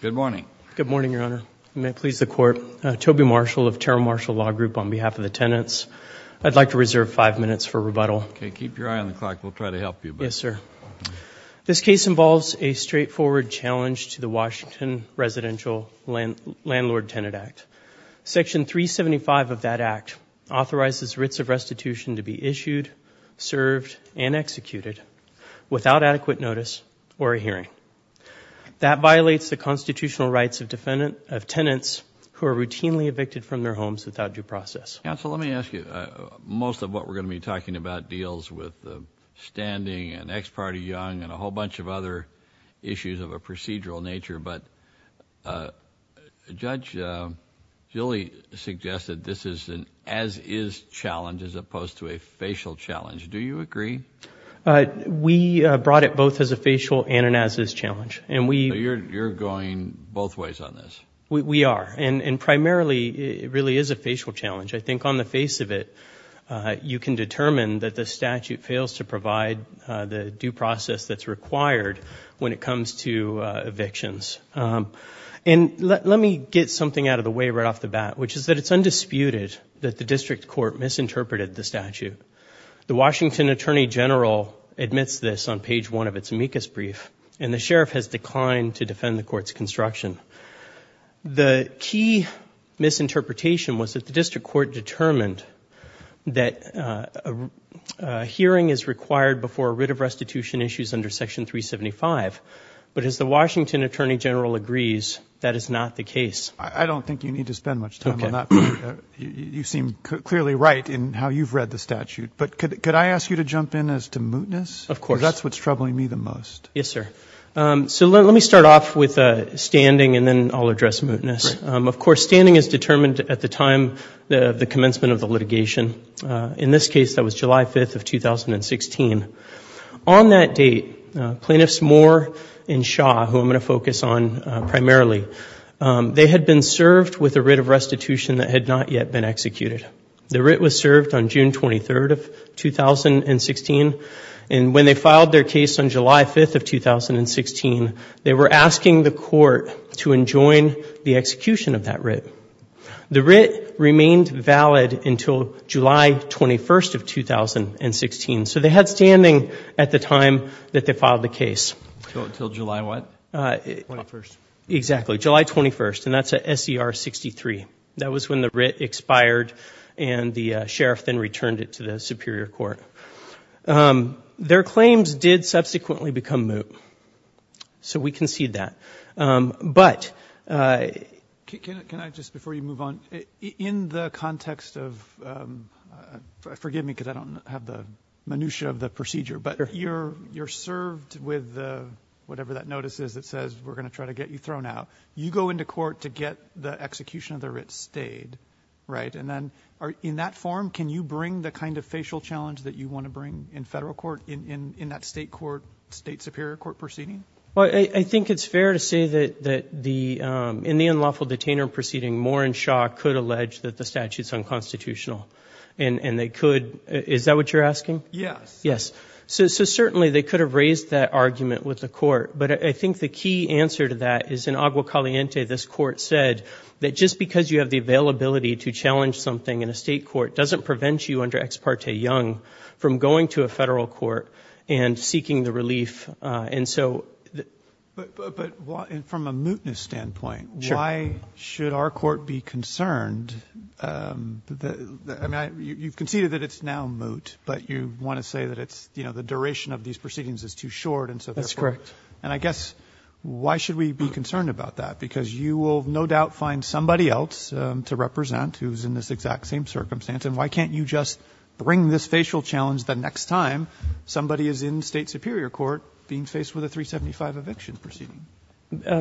Good morning. Good morning, Your Honor. May it please the Court. Toby Marshall of Terrell Marshall Law Group on behalf of the tenants. I'd like to reserve five minutes for rebuttal. Okay, keep your eye on the clock. We'll try to help you. Yes, sir. This case involves a straightforward challenge to the Washington Residential Landlord-Tenant Act. Section 375 of that act authorizes writs of restitution to be issued, served, and executed without adequate notice or a hearing. That violates the constitutional rights of tenants who are routinely evicted from their homes without due process. Counsel, let me ask you. Most of what we're going to be talking about deals with standing and ex parte young and a whole bunch of other issues of a procedural nature, but Judge Gilley suggested this is an as-is challenge as opposed to a facial challenge. Do you agree? We brought it both as a facial and an as-is challenge. You're going both ways on this? We are. Primarily, it really is a facial challenge. I think on the face of it, you can determine that the statute fails to provide the due process that's required when it comes to evictions. Let me get something out of the way right off the bat, which is that it's undisputed court misinterpreted the statute. The Washington Attorney General admits this on page one of its amicus brief, and the sheriff has declined to defend the court's construction. The key misinterpretation was that the district court determined that a hearing is required before writ of restitution issues under Section 375, but as the Washington Attorney General agrees, that is not the case. I don't think you need to spend much time on that. You seem clearly right in how you've read the statute, but could I ask you to jump in as to mootness? Of course. Because that's what's troubling me the most. Yes, sir. Let me start off with standing and then I'll address mootness. Of course, standing is determined at the time of the commencement of the litigation. In this case, that was July 5th of 2016. On that date, plaintiffs Moore and Shaw, who I'm going to focus on have been served with a writ of restitution that had not yet been executed. The writ was served on June 23rd of 2016, and when they filed their case on July 5th of 2016, they were asking the court to enjoin the execution of that writ. The writ remained valid until July 21st of 2016, so they had standing at the time that they filed the case. Until July what? July 21st. Exactly, July 21st, and that's at SCR 63. That was when the writ expired and the sheriff then returned it to the superior court. Their claims did subsequently become moot, so we concede that. Can I just, before you move on, in the context of, forgive me because I don't have the minutiae of the procedure, but you're served with whatever that notice is that says we're going to try to get you thrown out. You go into court to get the execution of the writ stayed. In that form, can you bring the kind of facial challenge that you want to bring in federal court in that state superior court proceeding? I think it's fair to say that in the unlawful detainer proceeding, Moore and Shaw could Yes, so certainly they could have raised that argument with the court, but I think the key answer to that is in Agua Caliente, this court said that just because you have the availability to challenge something in a state court doesn't prevent you under Ex Parte Young from going to a federal court and seeking the relief. From a mootness standpoint, why should our court be concerned? You've conceded that it's now moot, but you want to say that it's, you know, the duration of these proceedings is too short, and so therefore That's correct. And I guess, why should we be concerned about that? Because you will no doubt find somebody else to represent who's in this exact same circumstance, and why can't you just bring this facial challenge the next time somebody is in state superior court being faced with a 375 eviction proceeding?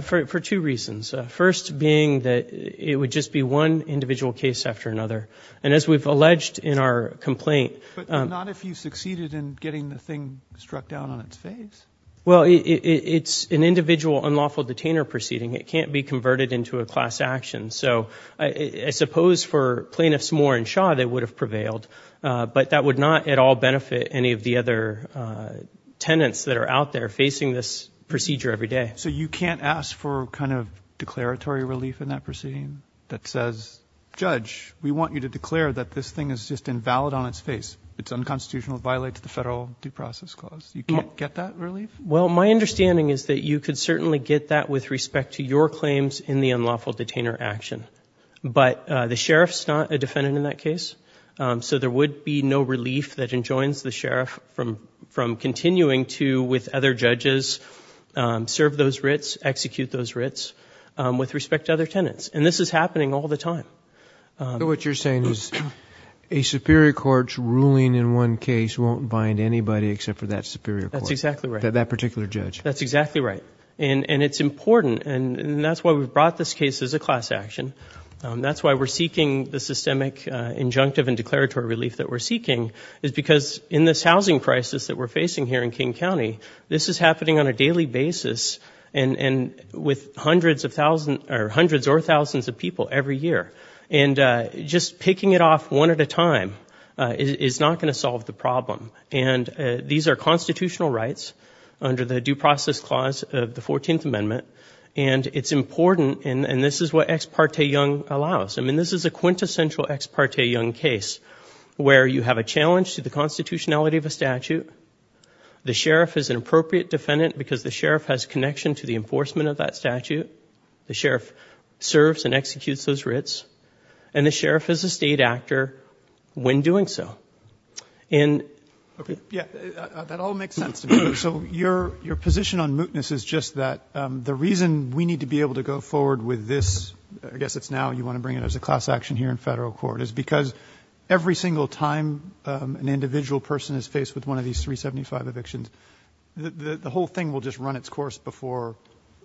For two reasons. First being that it would just be one individual case after another. And as we've alleged in our complaint But not if you succeeded in getting the thing struck down on its face? Well, it's an individual unlawful detainer proceeding. It can't be converted into a class action. So I suppose for plaintiffs Moore and Shaw, they would have prevailed, but that would not at all benefit any of the other tenants that are out there facing this procedure every day. So you can't ask for kind of declaratory relief in that proceeding that says, Judge, we want you to declare that this thing is just invalid on its face. It's unconstitutional. It violates the federal due process clause. You can't get that relief? Well, my understanding is that you could certainly get that with respect to your claims in the unlawful detainer action. But the sheriff's not a defendant in that case, so there would be no relief that enjoins the sheriff from continuing to, with other judges, serve those writs, execute those writs with respect to other tenants. And this is happening all the time. So what you're saying is a superior court's ruling in one case won't bind anybody except for that superior court? That's exactly right. That particular judge? That's exactly right. And it's important, and that's why we've brought this case as a class action. That's why we're seeking the systemic injunctive and declaratory relief that we're seeking, is because in this housing crisis that we're facing here in King County, this is happening on a daily basis and with hundreds or thousands of people every year. And just picking it off one at a time is not going to solve the problem. And these are constitutional rights under the due process clause of the 14th Amendment, and it's important, and this is what Ex parte Young allows. I mean, this is a quintessential Ex parte Young case where you have a challenge to the constitutionality of a statute, the sheriff is an appropriate defendant because the sheriff has connection to the enforcement of that statute, the sheriff serves and executes those writs, and the sheriff is a state actor when doing so. That all makes sense to me. So your position on mootness is just that the reason we need to be able to go forward with this, I guess it's now you want to bring it as a class action here in federal court, is because every single time an individual person is faced with one of these 375 evictions, the whole thing will just run its course before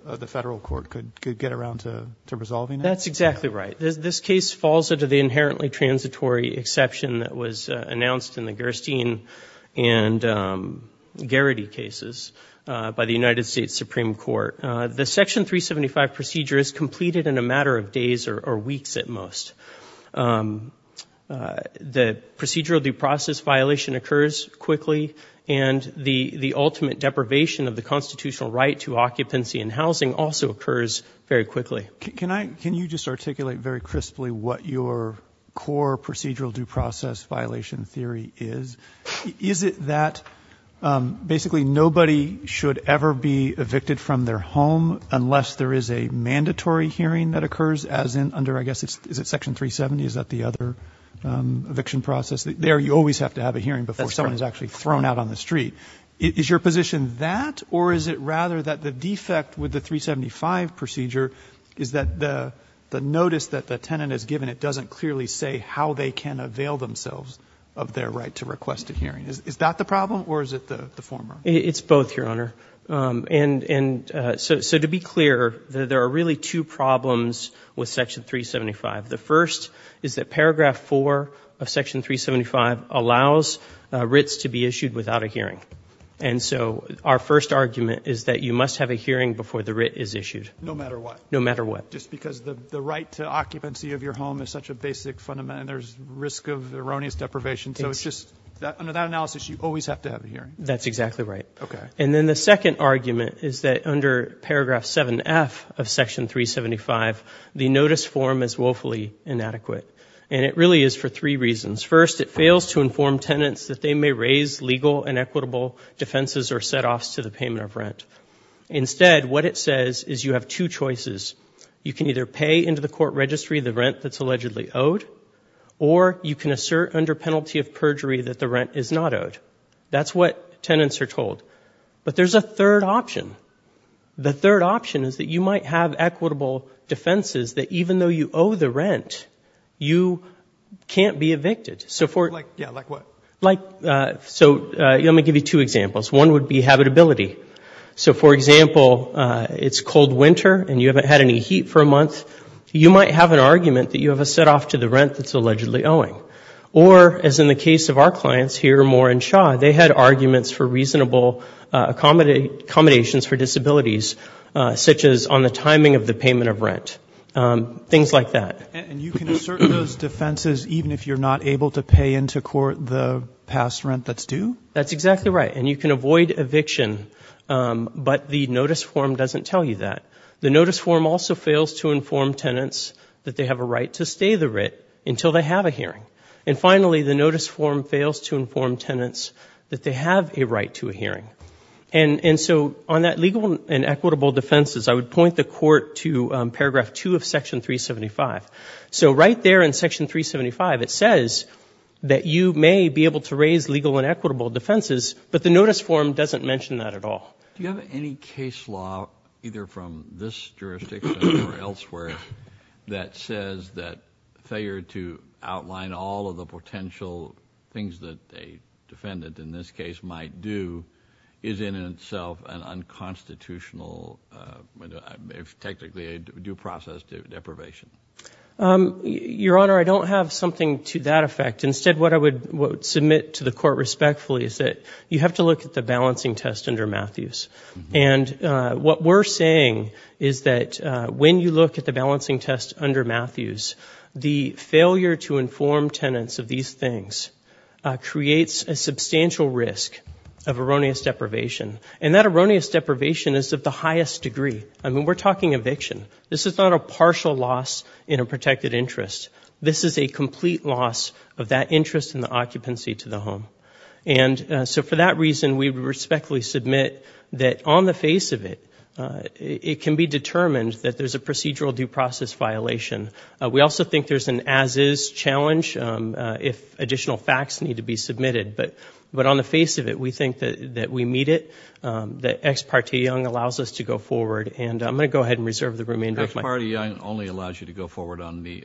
the federal court could get around to resolving it? That's exactly right. This case falls under the inherently transitory exception that was announced in the Gerstein and Garrity cases by the United States Supreme Court. The Section 375 procedure is completed in a matter of days or weeks at most. The procedural due process violation occurs quickly and the ultimate deprivation of the constitutional right to occupancy and housing also occurs very quickly. Can you just articulate very crisply what your core procedural due process violation theory is? Is it that basically nobody should ever be evicted from their home unless there is a eviction process? There you always have to have a hearing before someone is actually thrown out on the street. Is your position that or is it rather that the defect with the 375 procedure is that the notice that the tenant is given, it doesn't clearly say how they can avail themselves of their right to request a hearing? Is that the problem or is it the former? It's both, Your Honor. So to be clear, there are really two problems with Section 375. The first is that Paragraph 4 of Section 375 allows writs to be issued without a hearing. And so our first argument is that you must have a hearing before the writ is issued. No matter what? No matter what. Just because the right to occupancy of your home is such a basic fundamental risk of erroneous deprivation. So it's just under that analysis, you always have to have a hearing. That's exactly right. Okay. And then the second argument is that under Paragraph 7F of Section 375, the notice form is woefully inadequate. And it really is for three reasons. First, it fails to inform tenants that they may raise legal and equitable defenses or setoffs to the payment of rent. Instead, what it says is you have two choices. You can either pay into the court registry the rent that's allegedly owed, or you can assert under penalty of perjury that the rent is not owed. That's what tenants are told. But there's a third option. The third option is that you might have equitable defenses that even though you owe the rent, you can't be evicted. Like what? So let me give you two examples. One would be habitability. So for example, it's cold winter and you haven't had any heat for a month. You might have an argument that you have a setoff to the rent that's allegedly owing. Or as in the case of our clients here, Moore and Shaw, they had arguments for reasonable accommodations for disabilities, such as on the timing of the payment of rent. Things like that. And you can assert those defenses even if you're not able to pay into court the past rent that's due? That's exactly right. And you can avoid eviction, but the notice form doesn't tell you that. The notice form also fails to inform tenants that they have a right to stay the writ until they have a hearing. And finally, the notice form fails to inform tenants that they have a right to a hearing. And so on that legal and equitable defenses, I would point the court to paragraph two of section 375. So right there in section 375, it says that you may be able to raise legal and equitable defenses, but the notice form doesn't mention that at all. Do you have any case law, either from this jurisdiction or elsewhere, that says that failure to outline all of the potential things that a defendant in this case might do is in itself an unconstitutional, technically a due process deprivation? Your Honor, I don't have something to that effect. Instead, what I would submit to the court respectfully is that you have to look at the balancing test under Matthews. And what we're saying is that when you look at the balancing test under Matthews, the failure to inform tenants of these things creates a substantial risk of erroneous deprivation. And that erroneous deprivation is of the highest degree. I mean, we're talking eviction. This is not a partial loss in a protected interest. This is a complete loss of that interest in the occupancy to the home. And so for that reason, we respectfully submit that on the face of it, it can be determined that there's a procedural due process violation. We also think there's an as-is challenge if additional facts need to be submitted. But on the face of it, we think that we meet it, that Ex parte Young allows us to go forward. And I'm going to go ahead and reserve the remainder of my time. Ex parte Young only allows you to go forward on the,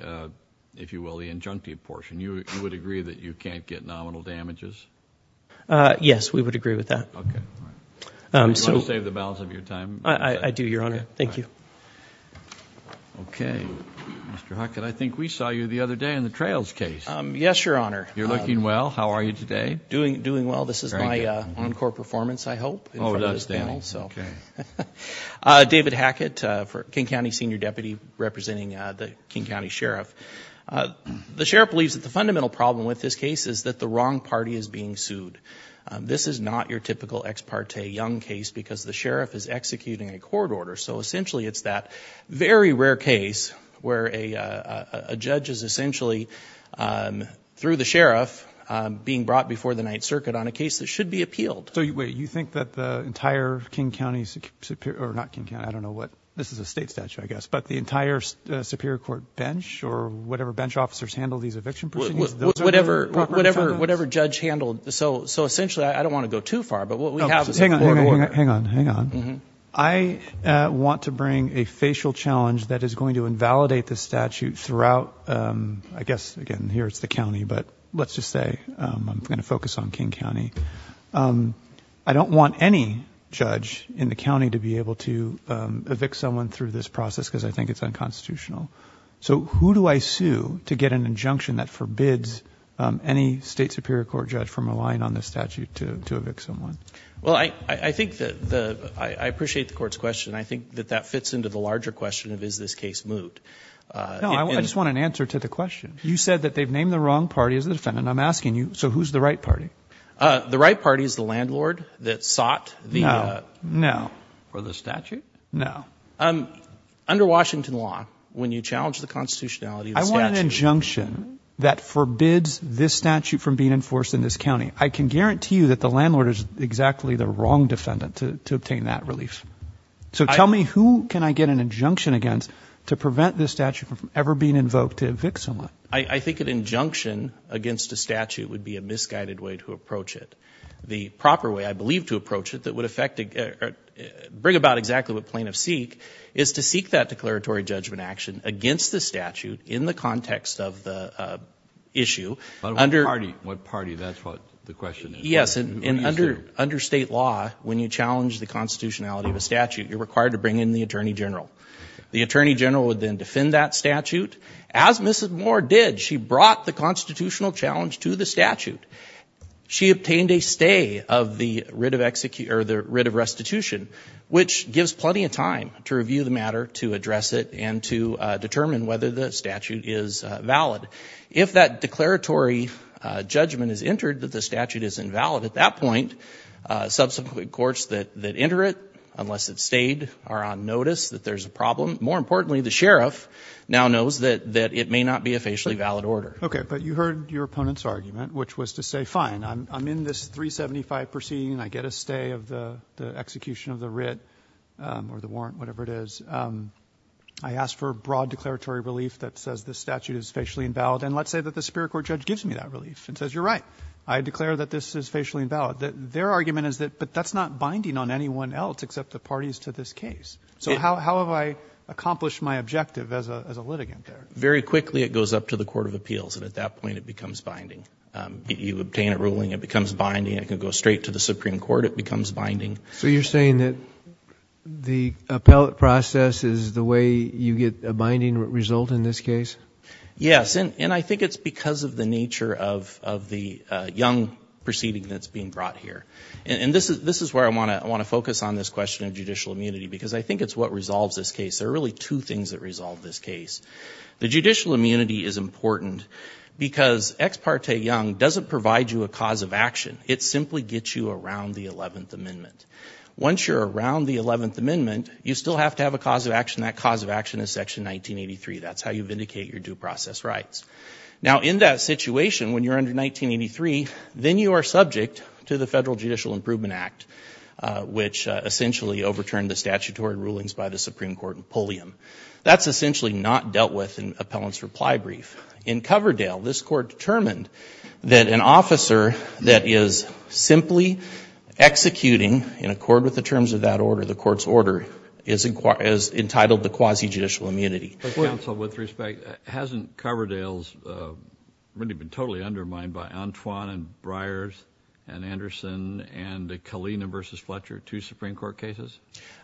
if you will, the injunctive portion. You would agree that you can't get nominal damages? Yes, we would agree with that. Okay, all right. Do you want to save the balance of your time? I do, Your Honor. Thank you. Okay. Mr. Hackett, I think we saw you the other day in the trails case. Yes, Your Honor. You're looking well. How are you today? Doing well. This is my on-court performance, I hope, in front of this panel. Oh, it does, Danny. Okay. David Hackett, King County Senior Deputy, representing the King County Sheriff. The sheriff believes that the fundamental problem with this case is that the wrong party is being sued. This is not your typical Ex parte Young case because the sheriff is executing a court order. So essentially, it's that very rare case where a judge is essentially, through the sheriff, being brought before the Ninth Circuit on a case that should be appealed. So wait, you think that the entire King County Superior, or not King County, I don't know what, this is a state statute, I guess, but the entire Superior Court bench, or whatever bench officers handle these eviction proceedings? Whatever judge handled. So essentially, I don't want to go too far, but what we have is a court order. Hang on, hang on. I want to bring a facial challenge that is going to invalidate the statute throughout, I guess, again, here it's the county, but let's just say I'm going to focus on through this process because I think it's unconstitutional. So who do I sue to get an injunction that forbids any state Superior Court judge from relying on this statute to evict someone? Well, I appreciate the court's question. I think that that fits into the larger question of, is this case moved? No, I just want an answer to the question. You said that they've named the wrong party as the defendant. I'm asking you, so who's the right party? The right party is the landlord that sought the statute? No. Under Washington law, when you challenge the constitutionality of the statute- I want an injunction that forbids this statute from being enforced in this county. I can guarantee you that the landlord is exactly the wrong defendant to obtain that relief. So tell me, who can I get an injunction against to prevent this statute from ever being invoked to evict someone? I think an injunction against a statute would be a misguided way to approach it. The proper way, I believe, to approach it that would bring about exactly what plaintiffs seek is to seek that declaratory judgment action against the statute in the context of the issue. What party? That's what the question is. Yes, and under state law, when you challenge the constitutionality of a statute, you're required to bring in the Attorney General. The Attorney General would then defend that statute, as Mrs. Moore did. She brought the constitutional challenge to the statute. She obtained a stay of the writ of restitution, which gives plenty of time to review the matter, to address it, and to determine whether the statute is valid. If that declaratory judgment is entered that the statute is invalid, at that point, subsequent courts that enter it, unless it stayed, are on notice that there's a problem. More importantly, the sheriff now knows that it may not be a facially valid order. You heard your opponent's argument, which was to say, fine, I'm in this 375 proceeding, I get a stay of the execution of the writ, or the warrant, whatever it is. I ask for broad declaratory relief that says the statute is facially invalid, and let's say that the Superior Court judge gives me that relief and says, you're right, I declare that this is facially invalid. Their argument is that, but that's not binding on anyone else except the parties to this case. How have I accomplished my objective as a litigant? Very quickly, it goes up to the Court of Appeals, and at that point, it becomes binding. You obtain a ruling, it becomes binding. It can go straight to the Supreme Court, it becomes binding. So you're saying that the appellate process is the way you get a binding result in this case? Yes, and I think it's because of the nature of the young proceeding that's being brought here. This is where I want to focus on this question of judicial immunity, because I think it's what resolved this case. The judicial immunity is important because Ex Parte Young doesn't provide you a cause of action. It simply gets you around the 11th Amendment. Once you're around the 11th Amendment, you still have to have a cause of action. That cause of action is Section 1983. That's how you vindicate your due process rights. Now, in that situation, when you're under 1983, then you are subject to the Federal Judicial Improvement Act, which essentially overturned statutory rulings by the Supreme Court in Pulliam. That's essentially not dealt with in appellant's reply brief. In Coverdale, this Court determined that an officer that is simply executing in accord with the terms of that order, the Court's order, is entitled to quasi-judicial immunity. But, counsel, with respect, hasn't Coverdale really been totally undermined by Antoine and Breyers and Anderson and the Kalina v. Fletcher, two Supreme Court cases?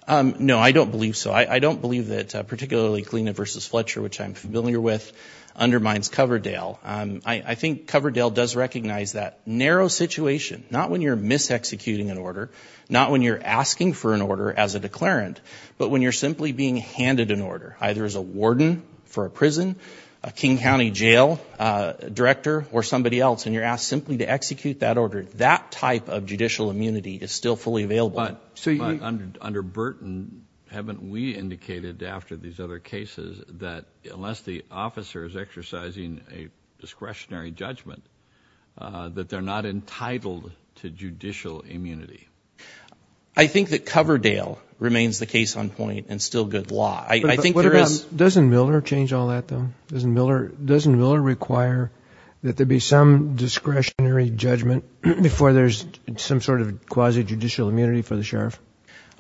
No, I don't believe so. I don't believe that particularly Kalina v. Fletcher, which I'm familiar with, undermines Coverdale. I think Coverdale does recognize that narrow situation, not when you're mis-executing an order, not when you're asking for an order as a declarant, but when you're simply being handed an order, either as a warden for a prison, a King County jail director, or somebody else, and you're asked simply to execute that order. That type of judicial immunity is still fully available. But under Burton, haven't we indicated after these other cases that unless the officer is exercising a discretionary judgment, that they're not entitled to judicial immunity? I think that Coverdale remains the case on point and still good law. I think there is... Doesn't Miller change all that, though? Doesn't Miller require that there be some quasi-judicial immunity for the sheriff?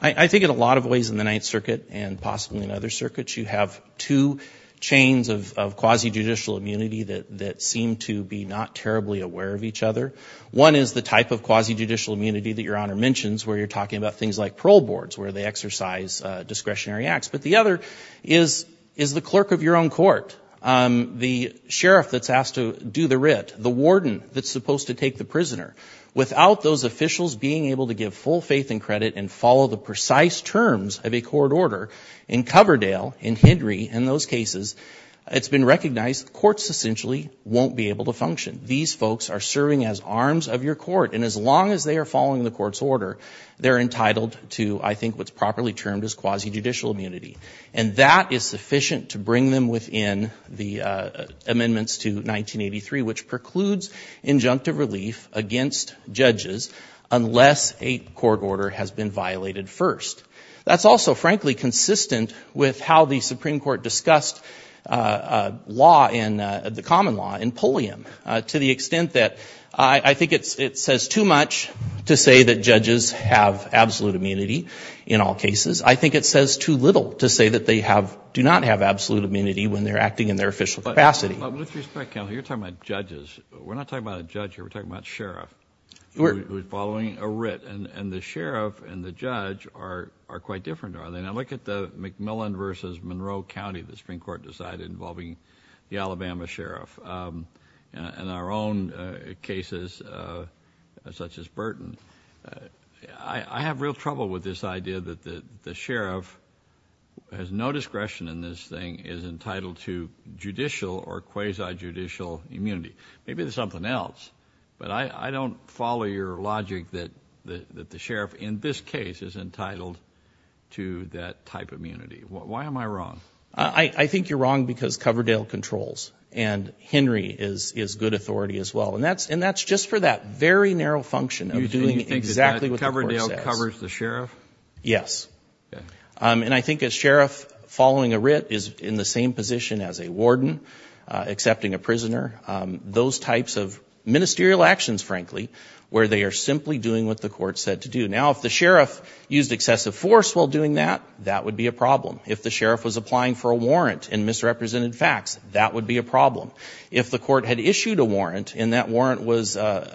I think in a lot of ways in the Ninth Circuit and possibly in other circuits, you have two chains of quasi-judicial immunity that seem to be not terribly aware of each other. One is the type of quasi-judicial immunity that Your Honor mentions, where you're talking about things like parole boards, where they exercise discretionary acts. But the other is the clerk of your own court, the sheriff that's asked to do the writ, the warden that's supposed to take the prisoner. Without those officials being able to give full faith and credit and follow the precise terms of a court order, in Coverdale, in Henry, in those cases, it's been recognized courts essentially won't be able to function. These folks are serving as arms of your court, and as long as they are following the court's order, they're entitled to, I think what's properly termed as quasi-judicial immunity. And that is sufficient to bring them within the amendments to 1983, which precludes injunctive relief against judges unless a court order has been violated first. That's also, frankly, consistent with how the Supreme Court discussed the common law in Pulliam, to the extent that I think it says too much to say that judges have do not have absolute immunity when they're acting in their official capacity. But with respect, Counselor, you're talking about judges. We're not talking about a judge here. We're talking about a sheriff who's following a writ. And the sheriff and the judge are quite different, are they? Now, look at the McMillan versus Monroe County the Supreme Court decided, involving the Alabama sheriff. In our own cases, such as Burton, I have real trouble with this has no discretion in this thing is entitled to judicial or quasi-judicial immunity. Maybe there's something else, but I don't follow your logic that the sheriff in this case is entitled to that type of immunity. Why am I wrong? I think you're wrong because Coverdale controls, and Henry is good authority as well. And that's just for that very narrow function of doing what the court says. And I think a sheriff following a writ is in the same position as a warden accepting a prisoner. Those types of ministerial actions, frankly, where they are simply doing what the court said to do. Now, if the sheriff used excessive force while doing that, that would be a problem. If the sheriff was applying for a warrant in misrepresented facts, that would be a problem. If the court had issued a warrant and that warrant was did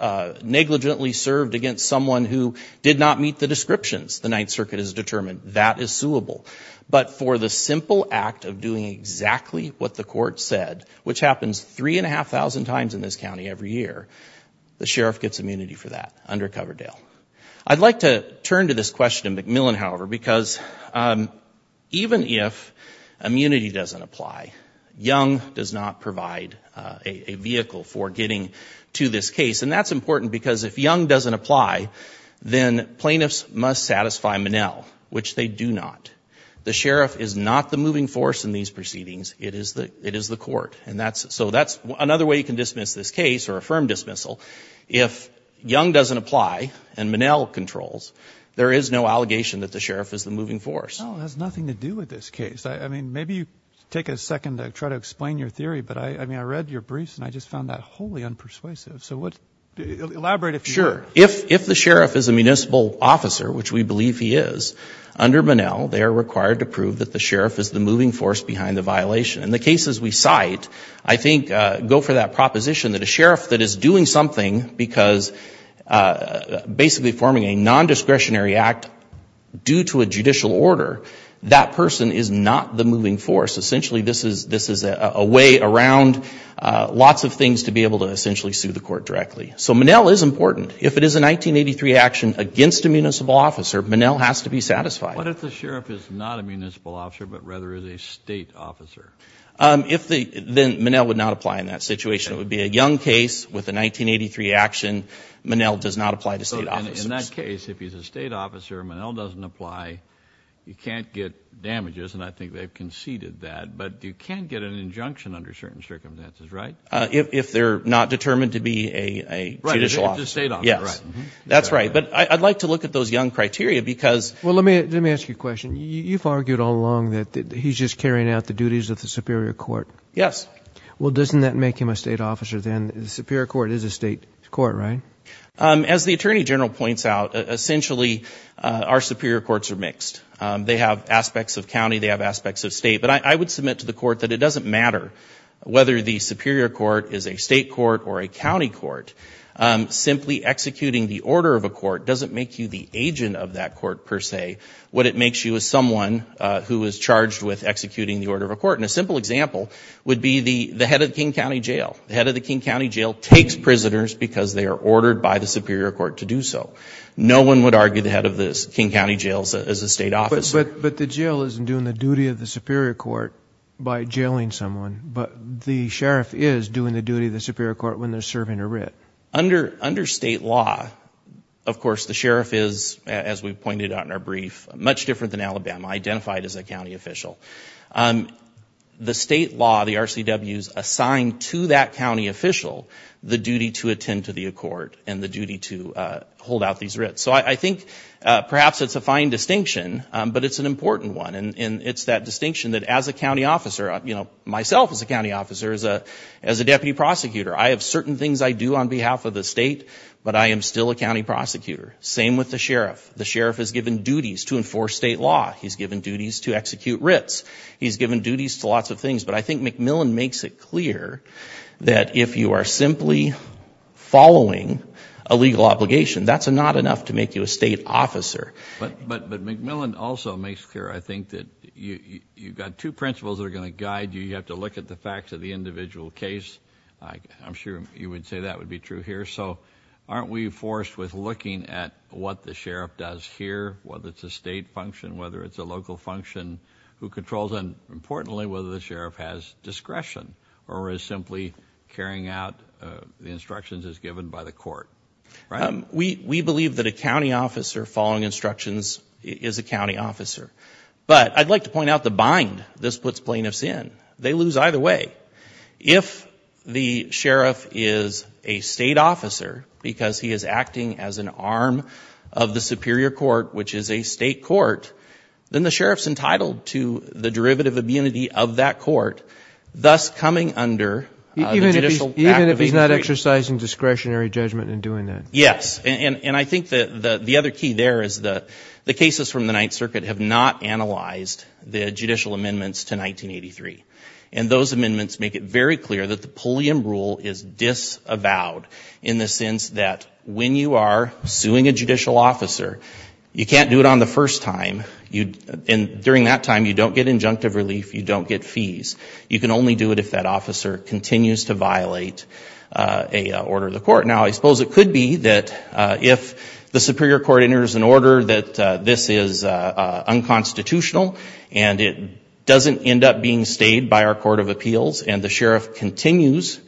not meet the descriptions, the Ninth Circuit has determined that is suable. But for the simple act of doing exactly what the court said, which happens three and a half thousand times in this county every year, the sheriff gets immunity for that under Coverdale. I'd like to turn to this question in McMillan, however, because even if immunity doesn't apply, Young does not provide a vehicle for getting to this case. And that's important because if Young doesn't apply, then plaintiffs must satisfy Monell, which they do not. The sheriff is not the moving force in these proceedings. It is the it is the court. And that's so that's another way you can dismiss this case or affirm dismissal. If Young doesn't apply and Monell controls, there is no allegation that the sheriff is the moving force. It has nothing to do with this case. I mean, maybe you take a second to try to explain your theory. But I mean, I read your briefs and I just found that wholly unpersuasive. So what elaborate if sure, if if the sheriff is a municipal officer, which we believe he is under Monell, they are required to prove that the sheriff is the moving force behind the violation and the cases we cite, I think go for that proposition that a sheriff that is doing something because basically forming a nondiscretionary act due to a judicial order. That person is not the moving force. Essentially, this is this is a way around lots of things to be able to essentially sue the court directly. So Monell is important. If it is a 1983 action against a municipal officer, Monell has to be satisfied. What if the sheriff is not a municipal officer, but rather is a state officer? If the then Monell would not apply in that situation, it would be a young case with a 1983 action. Monell does not apply to state office. In that case, if he's a state officer, Monell doesn't apply. You can't get damages. And I think they've conceded that. But you can't get an if they're not determined to be a judicial state. That's right. But I'd like to look at those young criteria because well, let me let me ask you a question. You've argued all along that he's just carrying out the duties of the Superior Court. Yes. Well, doesn't that make him a state officer then? The Superior Court is a state court, right? As the attorney general points out, essentially, our superior courts are mixed. They have aspects of county. They have aspects of state. But I the Superior Court is a state court or a county court, simply executing the order of a court doesn't make you the agent of that court per se. What it makes you is someone who is charged with executing the order of a court. And a simple example would be the head of the King County Jail. The head of the King County Jail takes prisoners because they are ordered by the Superior Court to do so. No one would argue the head of the King County Jail is a state officer. But the jail isn't doing the duty of the Superior Court by jailing someone, but the sheriff is doing the duty of the Superior Court when they're serving a writ. Under state law, of course, the sheriff is, as we pointed out in our brief, much different than Alabama, identified as a county official. The state law, the RCWs, assign to that county official the duty to attend to the court and the duty to hold out these writs. So I think perhaps it's a fine distinction, but it's an important one. And it's that distinction that as a county officer, you know, myself as a county officer, as a deputy prosecutor, I have certain things I do on behalf of the state, but I am still a county prosecutor. Same with the sheriff. The sheriff is given duties to enforce state law. He's given duties to execute writs. He's given duties to lots of things. But I think McMillan makes it clear that if you are simply following a legal obligation, that's not enough to make you a state officer. But McMillan also makes clear, I think, that you've got two principles that are going to guide you. You have to look at the facts of the individual case. I'm sure you would say that would be true here. So aren't we forced with looking at what the sheriff does here, whether it's a state function, whether it's a local function who controls, and importantly, whether the sheriff has discretion or is simply carrying out the instructions as given by the county officer following instructions is a county officer. But I'd like to point out the bind this puts plaintiffs in. They lose either way. If the sheriff is a state officer, because he is acting as an arm of the superior court, which is a state court, then the sheriff's entitled to the derivative immunity of that court, thus coming under the judicial act. Even if he's not exercising discretionary judgment in doing that. Yes. And I think the other key there is the cases from the Ninth Circuit have not analyzed the judicial amendments to 1983. And those amendments make it very clear that the Pulliam rule is disavowed in the sense that when you are suing a judicial officer, you can't do it on the first time. And during that time, you don't get injunctive relief, you don't get fees. You can only do it if that officer continues to violate a order of the court. Now, I suppose it could be that if the superior court enters an order that this is unconstitutional and it doesn't end up being stayed by our court of appeals and the sheriff continues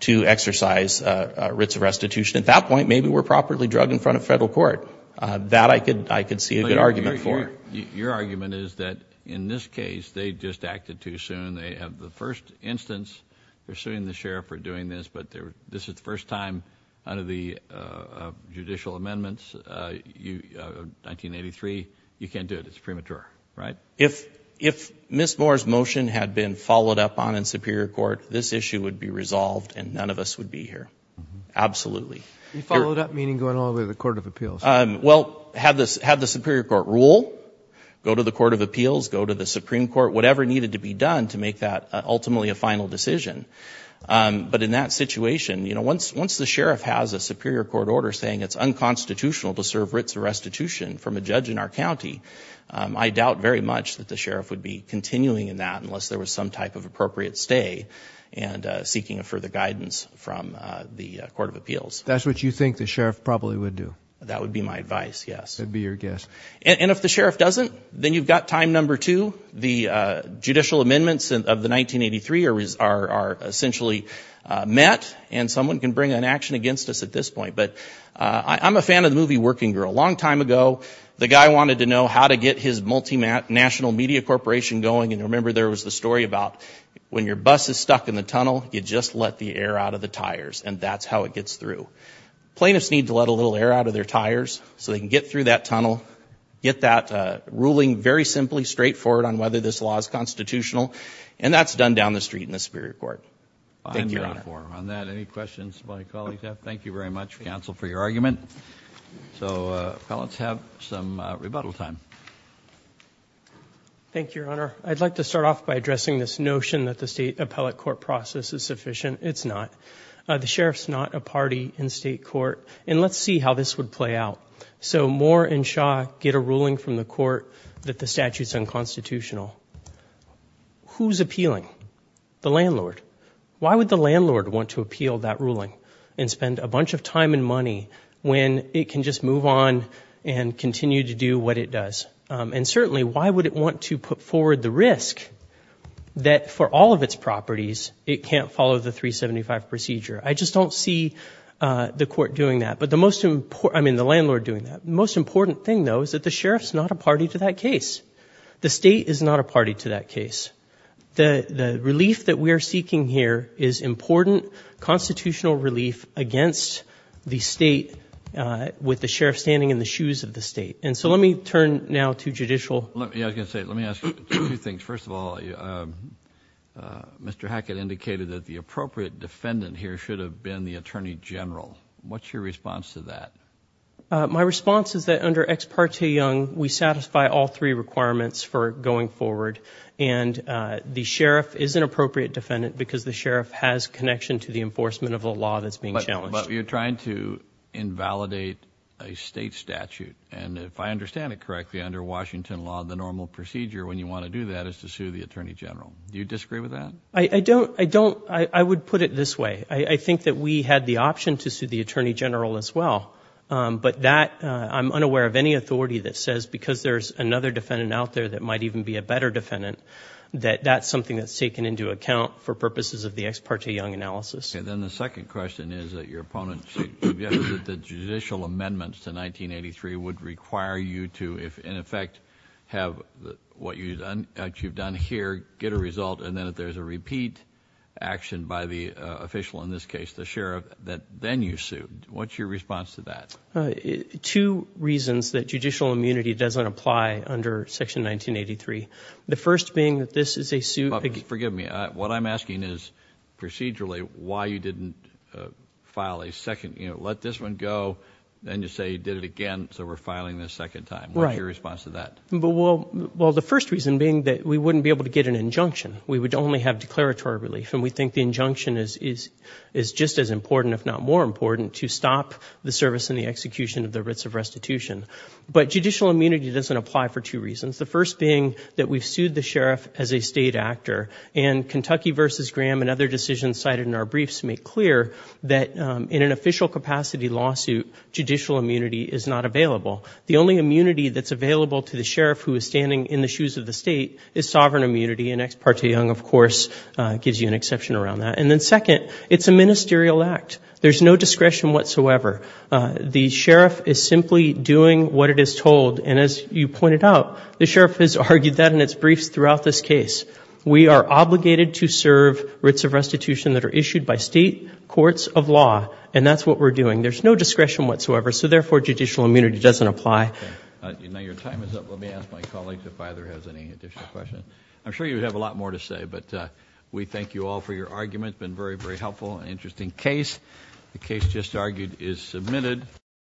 to exercise writs of restitution, at that point, maybe we're properly drugged in front of federal court. That I could see a good argument for. Your argument is that in this case, they just acted too soon. They have the first instance, they're suing the sheriff for doing this, but this is the first time under the judicial amendments, 1983, you can't do it. It's premature, right? If Ms. Moore's motion had been followed up on in superior court, this issue would be resolved and none of us would be here. Absolutely. You followed up meaning going all the way to the court of appeals? Well, had the superior court rule, go to the court of appeals, go to the Supreme Court, whatever needed to be done to make that ultimately a final decision. But in that situation, once the sheriff has a superior court order saying it's unconstitutional to serve writs of restitution from a judge in our county, I doubt very much that the sheriff would be continuing in that unless there was some type of appropriate stay and seeking further guidance from the court of appeals. That's what you think the sheriff probably would do? That would be my advice, yes. That'd be your guess. And if the sheriff doesn't, then you've got time number two. The judicial amendments of the 1983 are essentially met and someone can bring an action against us at this point. But I'm a fan of the movie Working Girl. A long time ago, the guy wanted to know how to get his National Media Corporation going. And remember, there was the story about when your bus is stuck in the tunnel, you just let the air out of the tires, and that's how it gets through. Plaintiffs need to let a little air out of their tires so they can get through that tunnel, get that ruling very simply, straightforward on whether this law is constitutional, and that's done down the street in the superior court. Thank you, Your Honor. On that, any questions my colleagues have? Thank you very much, counsel, for your argument. So appellants have some rebuttal time. Thank you, Your Honor. I'd like to start off by addressing this notion that the State Appellate process is sufficient. It's not. The sheriff's not a party in state court. And let's see how this would play out. So Moore and Shaw get a ruling from the court that the statute's unconstitutional. Who's appealing? The landlord. Why would the landlord want to appeal that ruling and spend a bunch of time and money when it can just move on and continue to do what it does? And certainly, why would it want to put forward the risk that for all of its properties, it can't follow the 375 procedure? I just don't see the court doing that. But the most important—I mean, the landlord doing that. The most important thing, though, is that the sheriff's not a party to that case. The state is not a party to that case. The relief that we are seeking here is important constitutional relief against the state with the sheriff standing in the shoes of the judicial— Let me ask you two things. First of all, Mr. Hackett indicated that the appropriate defendant here should have been the attorney general. What's your response to that? My response is that under Ex parte Young, we satisfy all three requirements for going forward. And the sheriff is an appropriate defendant because the sheriff has connection to the enforcement of the law that's being challenged. But you're trying to invalidate a state statute. And if I understand it correctly, under Washington law, the normal procedure when you want to do that is to sue the attorney general. Do you disagree with that? I don't. I don't. I would put it this way. I think that we had the option to sue the attorney general as well. But that—I'm unaware of any authority that says because there's another defendant out there that might even be a better defendant, that that's something that's taken into account for purposes of the Ex parte Young analysis. Then the second question is that your opponent suggested that the judicial amendments to 1983 would require you to, if in effect, have what you've done here, get a result, and then if there's a repeat action by the official, in this case the sheriff, that then you sue. What's your response to that? Two reasons that judicial immunity doesn't apply under Section 1983. The first being that this is a suit— what I'm asking is, procedurally, why you didn't file a second—let this one go, then you say you did it again, so we're filing this second time. What's your response to that? Well, the first reason being that we wouldn't be able to get an injunction. We would only have declaratory relief, and we think the injunction is just as important, if not more important, to stop the service and the execution of the writs of restitution. But judicial immunity doesn't apply for two reasons. The first being that we've sued the sheriff as a state actor, and Kentucky v. Graham and other decisions cited in our briefs make clear that in an official capacity lawsuit, judicial immunity is not available. The only immunity that's available to the sheriff who is standing in the shoes of the state is sovereign immunity, and Ex parte Young, of course, gives you an exception around that. And then second, it's a ministerial act. There's no discretion whatsoever. The sheriff is simply doing what it is told, and as you pointed out, the sheriff has argued that in its briefs throughout this case. We are obligated to serve writs of restitution that are issued by state courts of law, and that's what we're doing. There's no discretion whatsoever, so therefore, judicial immunity doesn't apply. Now your time is up. Let me ask my colleagues if either has any additional questions. I'm sure you have a lot more to say, but we thank you all for your argument. It's been very, very helpful and interesting case. The case just argued is submitted.